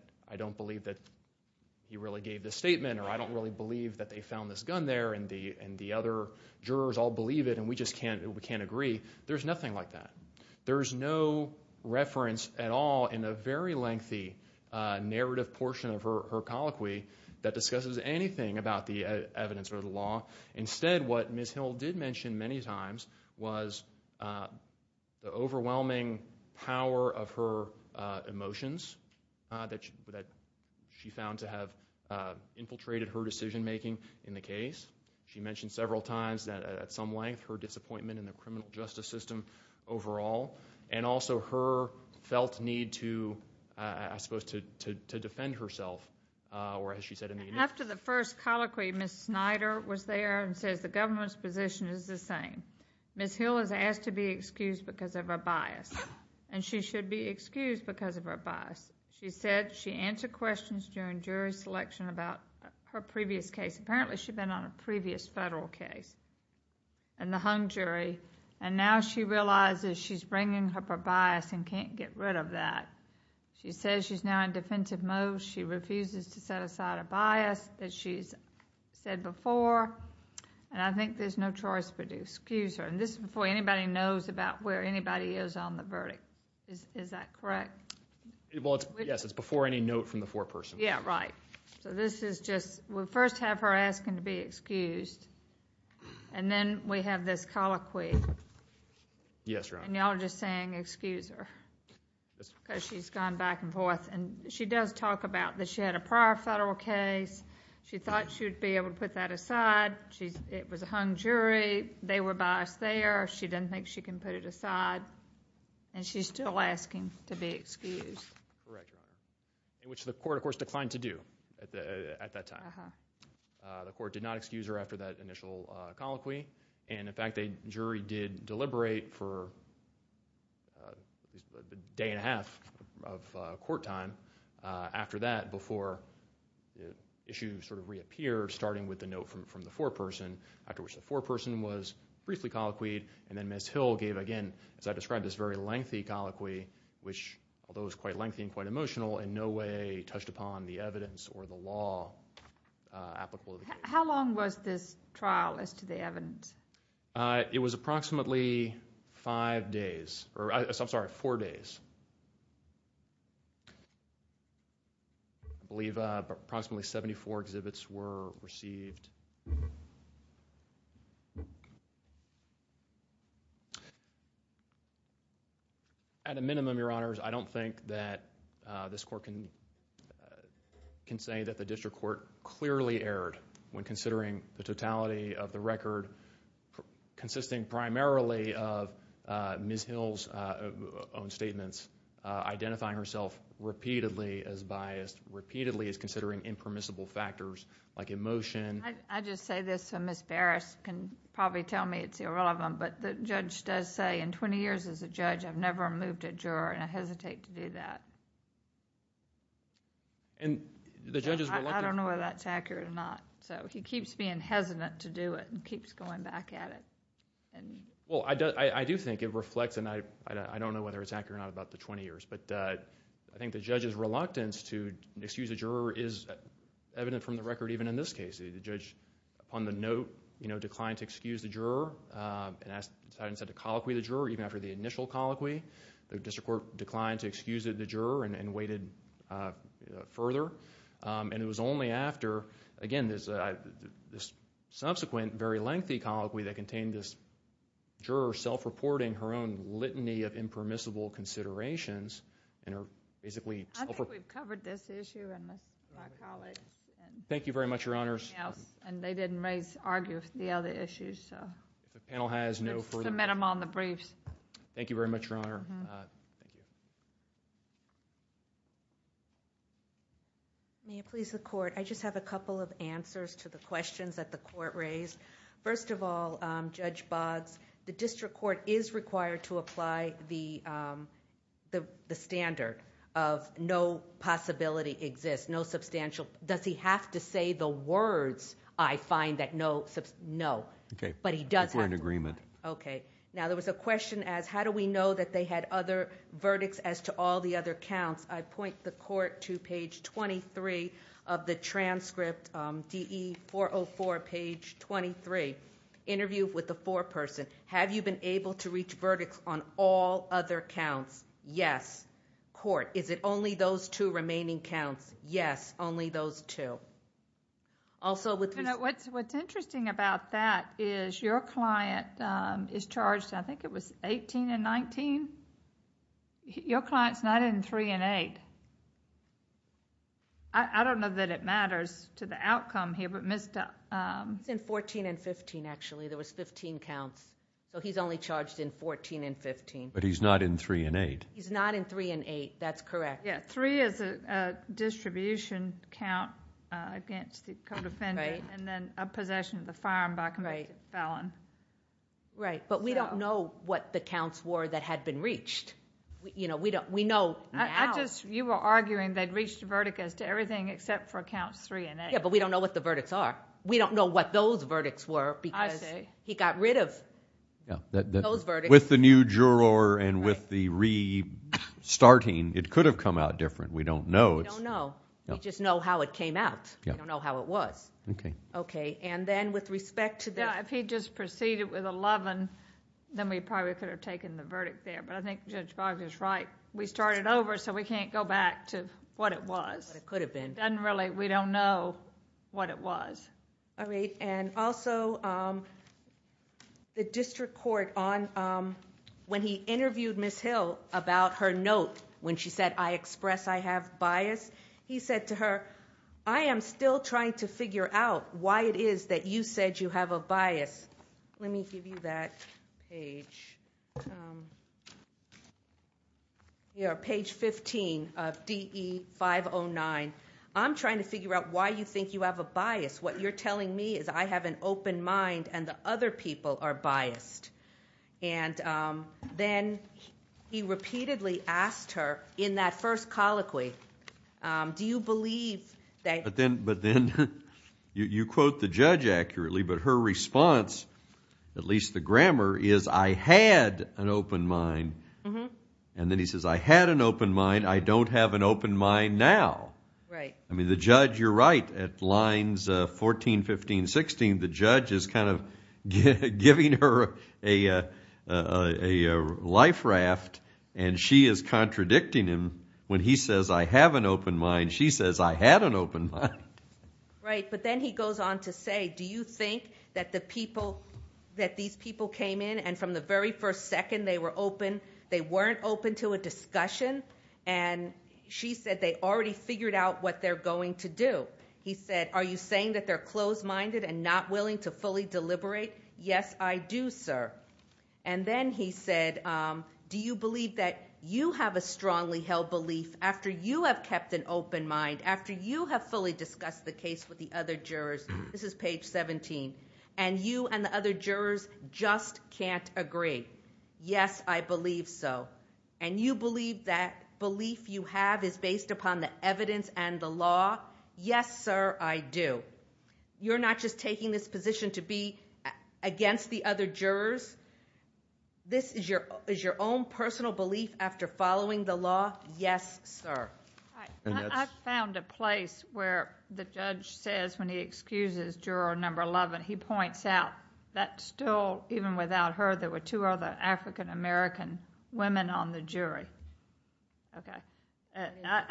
he really gave this statement or I don't really believe that they found this gun there and the other jurors all believe it and we just can't agree. There's nothing like that. There's no reference at all in a very lengthy narrative portion of her colloquy that discusses anything about the evidence or the law. Instead, what Ms. Hill did mention many times was the overwhelming power of her emotions that she found to have infiltrated her decision-making in the case. She mentioned several times that at some length, her disappointment in the criminal justice system overall and also her felt need to, I suppose, to defend herself. After the first colloquy, Ms. Snyder was there and says the government's position is the same. Ms. Hill is asked to be excused because of her bias and she should be excused because of her bias. She said she answered questions during jury selection about her previous case. Apparently, she'd been on a previous federal case and the hung jury and now she realizes she's bringing up her bias and can't get rid of that. She says she's now in defensive mode. She refuses to set aside a bias, as she's said before, and I think there's no choice but to excuse her. This is before anybody knows about where anybody is on the verdict. Is that correct? Yes, it's before any note from the foreperson. Yeah, right. We'll first have her asking to be excused and then we have this colloquy. Yes, Your Honor. Y'all are just saying excuse her because she's gone back and forth. She does talk about that she had a prior federal case. She thought she would be able to put that aside. It was a hung jury. They were biased there. She doesn't think she can put it aside and she's still asking to be excused. Correct, Your Honor, which the court, of course, declined to do at that time. The court did not excuse her after that initial colloquy and, in fact, the jury did deliberate for a day and a half of court time after that before the issue sort of reappeared, starting with the note from the foreperson, after which the foreperson was briefly colloquied, and then Ms. Hill gave, again, as I described, this very lengthy colloquy, which, although it was quite lengthy and quite emotional, in no way touched upon the evidence or the law applicable to the case. How long was this trial as to the evidence? It was approximately four days. I believe approximately 74 exhibits were received. At a minimum, Your Honors, I don't think that this court can say that the district court clearly erred when considering the totality of the record consisting primarily of Ms. Hill's own statements, identifying herself repeatedly as biased, repeatedly as considering impermissible factors like emotion... I just say this so Ms. Barris can probably tell me it's irrelevant, but the judge does say, in twenty years as a judge, I've never moved a juror and I hesitate to do that. I don't know whether that's accurate or not. He keeps being hesitant to do it and keeps going back at it. I do think it reflects, and I don't know whether it's accurate or not, about the twenty years, but I think the judge's reluctance to excuse a juror is evident from the record even in this case. The judge, upon the note, declined to excuse the juror and decided instead to colloquy the juror even after the initial colloquy. The district court declined to excuse the juror and waited further, and it was only after, again, this subsequent very lengthy colloquy that contained this juror self-reporting her own litany of impermissible considerations. I think we've covered this issue and my colleagues. Thank you very much, Your Honors. And they didn't argue the other issues. If the panel has no further... Submit them on the briefs. Thank you very much, Your Honor. May it please the court. I just have a couple of answers to the questions that the court raised. First of all, Judge Boggs, the district court is required to apply the standard of no possibility exists, no substantial... Does he have to say the words, I find, that no... No. Okay. But he does have to. If we're in agreement. Okay. Now, there was a question as, how do we know that they had other verdicts as to all the other counts? I point the court to page 23 of the transcript, DE 404, page 23. Interview with the foreperson. Have you been able to reach verdicts on all other counts? Yes. Court, is it only those two remaining counts? Yes, only those two. Also with... What's interesting about that is your client is charged, I think it was 18 and 19. Your client's not in three and eight. I don't know that it matters to the outcome here, but Mr.... He's in 14 and 15, actually. There was 15 counts. He's only charged in 14 and 15. But he's not in three and eight. He's not in three and eight. That's correct. Three is a distribution count against the co-defendant and then a possession of the firearm by a convicted felon. Right. But we don't know what the counts were that had been reached. We know now... You were arguing they'd reached a verdict as to everything except for counts three and eight. Yeah, but we don't know what the verdicts are. We don't know what those verdicts were because he got rid of those verdicts. With the new juror and with the restarting, it could have come out different. We don't know. We don't know. We just know how it came out. We don't know how it was. Okay. Okay. And then with respect to the... Yeah, if he just proceeded with 11, then we probably could have taken the verdict there, but I think Judge Boggs is right. We started over, so we can't go back to what it was. What it could have been. We don't know what it was. All right. And also, the district court, when he interviewed Ms. Hill about her note, when she said, I express I have bias, he said to her, I am still trying to figure out why it is that you said you have a bias. Let me give you that page. Here, page 15 of DE 509. I'm trying to figure out why you think you have a bias. What you're telling me is I have an open mind and the other people are biased. And then he repeatedly asked her in that first colloquy, do you believe... But then you quote the judge accurately, but her response, at least the grammar, is I had an open mind. And then he says, I had an open mind. I don't have an open mind now. Right. I mean, the judge, you're right. At lines 14, 15, 16, the judge is kind of giving her a life raft, and she is contradicting him. When he says, I have an open mind, she says, I had an open mind. Right. But then he goes on to say, do you think that the people, that these people came in and from the very first second they were open, they weren't open to a discussion, and she said, they already figured out what they're going to do. He said, are you saying that they're closed-minded and not willing to fully deliberate? Yes, I do, sir. And then he said, do you believe that you have a strongly held belief after you have kept an open mind, after you have fully discussed the case with the other jurors, this is page 17, and you and the other jurors just can't agree. Yes, I believe so. And you believe that belief you have is based upon the evidence and the law? Yes, sir, I do. You're not just taking this position to be against the other jurors? This is your own personal belief after following the law? Yes, sir. I found a place where the judge says when he excuses juror number 11, he points out that still, even without her, there were two other African-American women on the jury.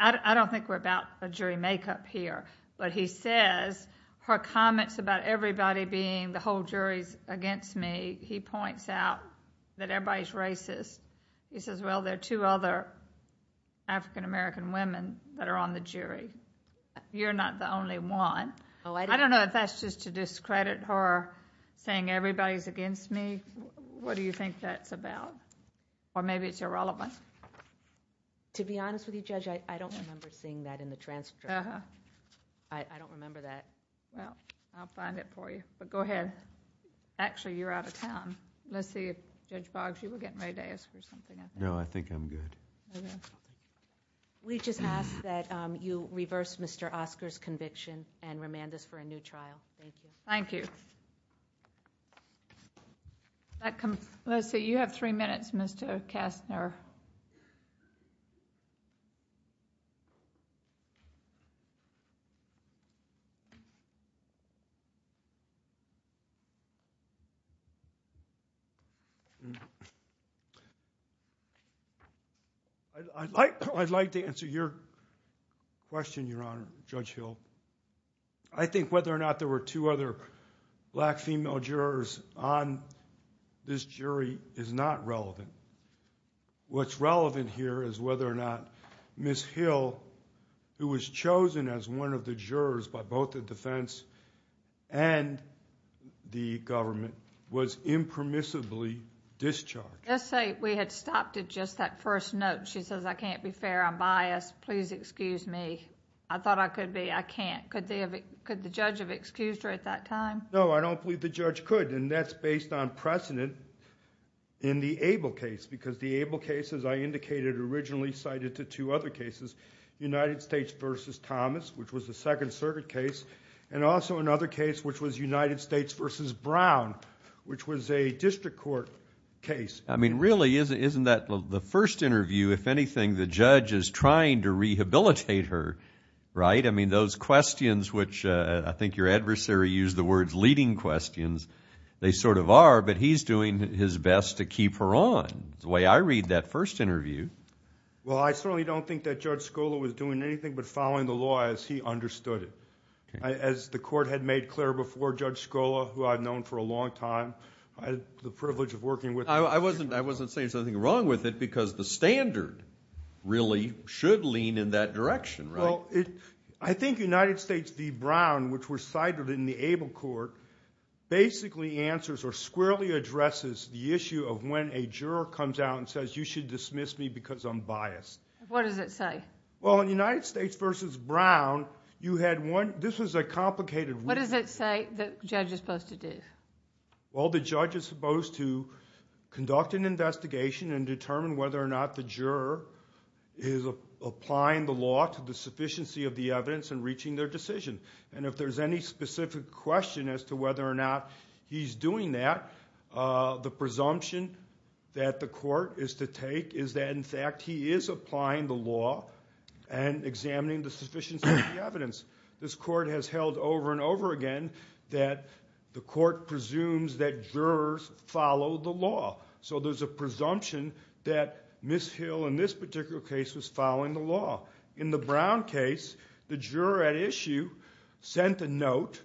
I don't think we're about a jury make-up here, but he says her comments about everybody being, the whole jury's against me, he points out that everybody's racist. He says, well, there are two other African-American women that are on the jury. You're not the only one. I don't know if that's just to discredit her saying everybody's against me. What do you think that's about? Or maybe it's irrelevant. To be honest with you, Judge, I don't remember seeing that in the transcript. I don't remember that. Well, I'll find it for you, but go ahead. Actually, you're out of time. Let's see if Judge Boggs, you were getting ready to ask for something. No, I think I'm good. We just ask that you reverse Mr. Oscar's conviction and remand us for a new trial. Thank you. Thank you. Let's see, you have three minutes, Mr. Kastner. I'd like to answer your question, Your Honor, Judge Hill. I think whether or not there were two other black female jurors on this jury is not relevant. What's relevant here is whether or not Ms. Hill, who was chosen as one of the jurors by both the defense and the government, was impermissibly discharged. Let's say we had stopped at just that first note. She says, I can't be fair. I'm biased. Please excuse me. I thought I could be. I can't. Could the judge have excused her at that time? No, I don't believe the judge could, and that's based on precedent in the Abel case, because the Abel case, as I indicated, originally cited the two other cases, United States v. Thomas, which was a Second Circuit case, and also another case which was United States v. Brown, which was a district court case. I mean, really, isn't that the first interview, if anything, the judge is trying to rehabilitate her, right? I mean, those questions which I think your adversary used the words leading questions, they sort of are, but he's doing his best to keep her on. It's the way I read that first interview. Well, I certainly don't think that Judge Scola was doing anything but following the law as he understood it. As the court had made clear before, Judge Scola, who I've known for a long time, I had the privilege of working with him. I wasn't saying something wrong with it, because the standard really should lean in that direction, right? Well, I think United States v. Brown, which was cited in the Abel court, basically answers or squarely addresses the issue of when a juror comes out and says you should dismiss me because I'm biased. What does it say? Well, in United States v. Brown, you had one. This was a complicated one. What does it say the judge is supposed to do? Well, the judge is supposed to conduct an investigation and determine whether or not the juror is applying the law to the sufficiency of the evidence and reaching their decision. And if there's any specific question as to whether or not he's doing that, the presumption that the court is to take is that, in fact, this court has held over and over again that the court presumes that jurors follow the law. So there's a presumption that Ms. Hill, in this particular case, was following the law. In the Brown case, the juror at issue sent a note,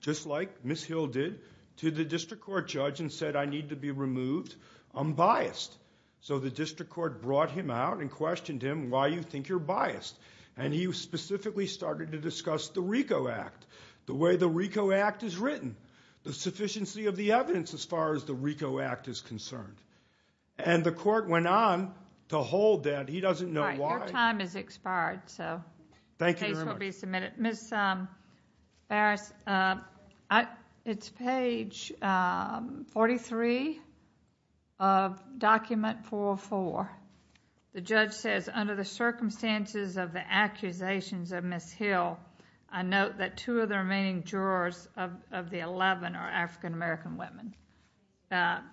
just like Ms. Hill did, to the district court judge and said, I need to be removed. I'm biased. So the district court brought him out and questioned him why you think you're biased. And he specifically started to discuss the RICO Act, the way the RICO Act is written, the sufficiency of the evidence as far as the RICO Act is concerned. And the court went on to hold that. He doesn't know why. Your time has expired, so the case will be submitted. Thank you very much. Ms. Barras, it's page 43 of Document 404. The judge says, under the circumstances of the accusations of Ms. Hill, I note that two of the remaining jurors of the 11 are African-American women.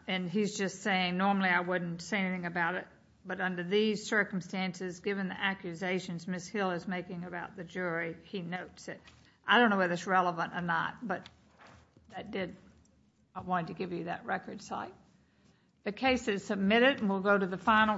And he's just saying, normally I wouldn't say anything about it, but under these circumstances, given the accusations Ms. Hill is making about the jury, he notes it. I don't know whether it's relevant or not, but I wanted to give you that record site. The case is submitted, and we'll go to the final.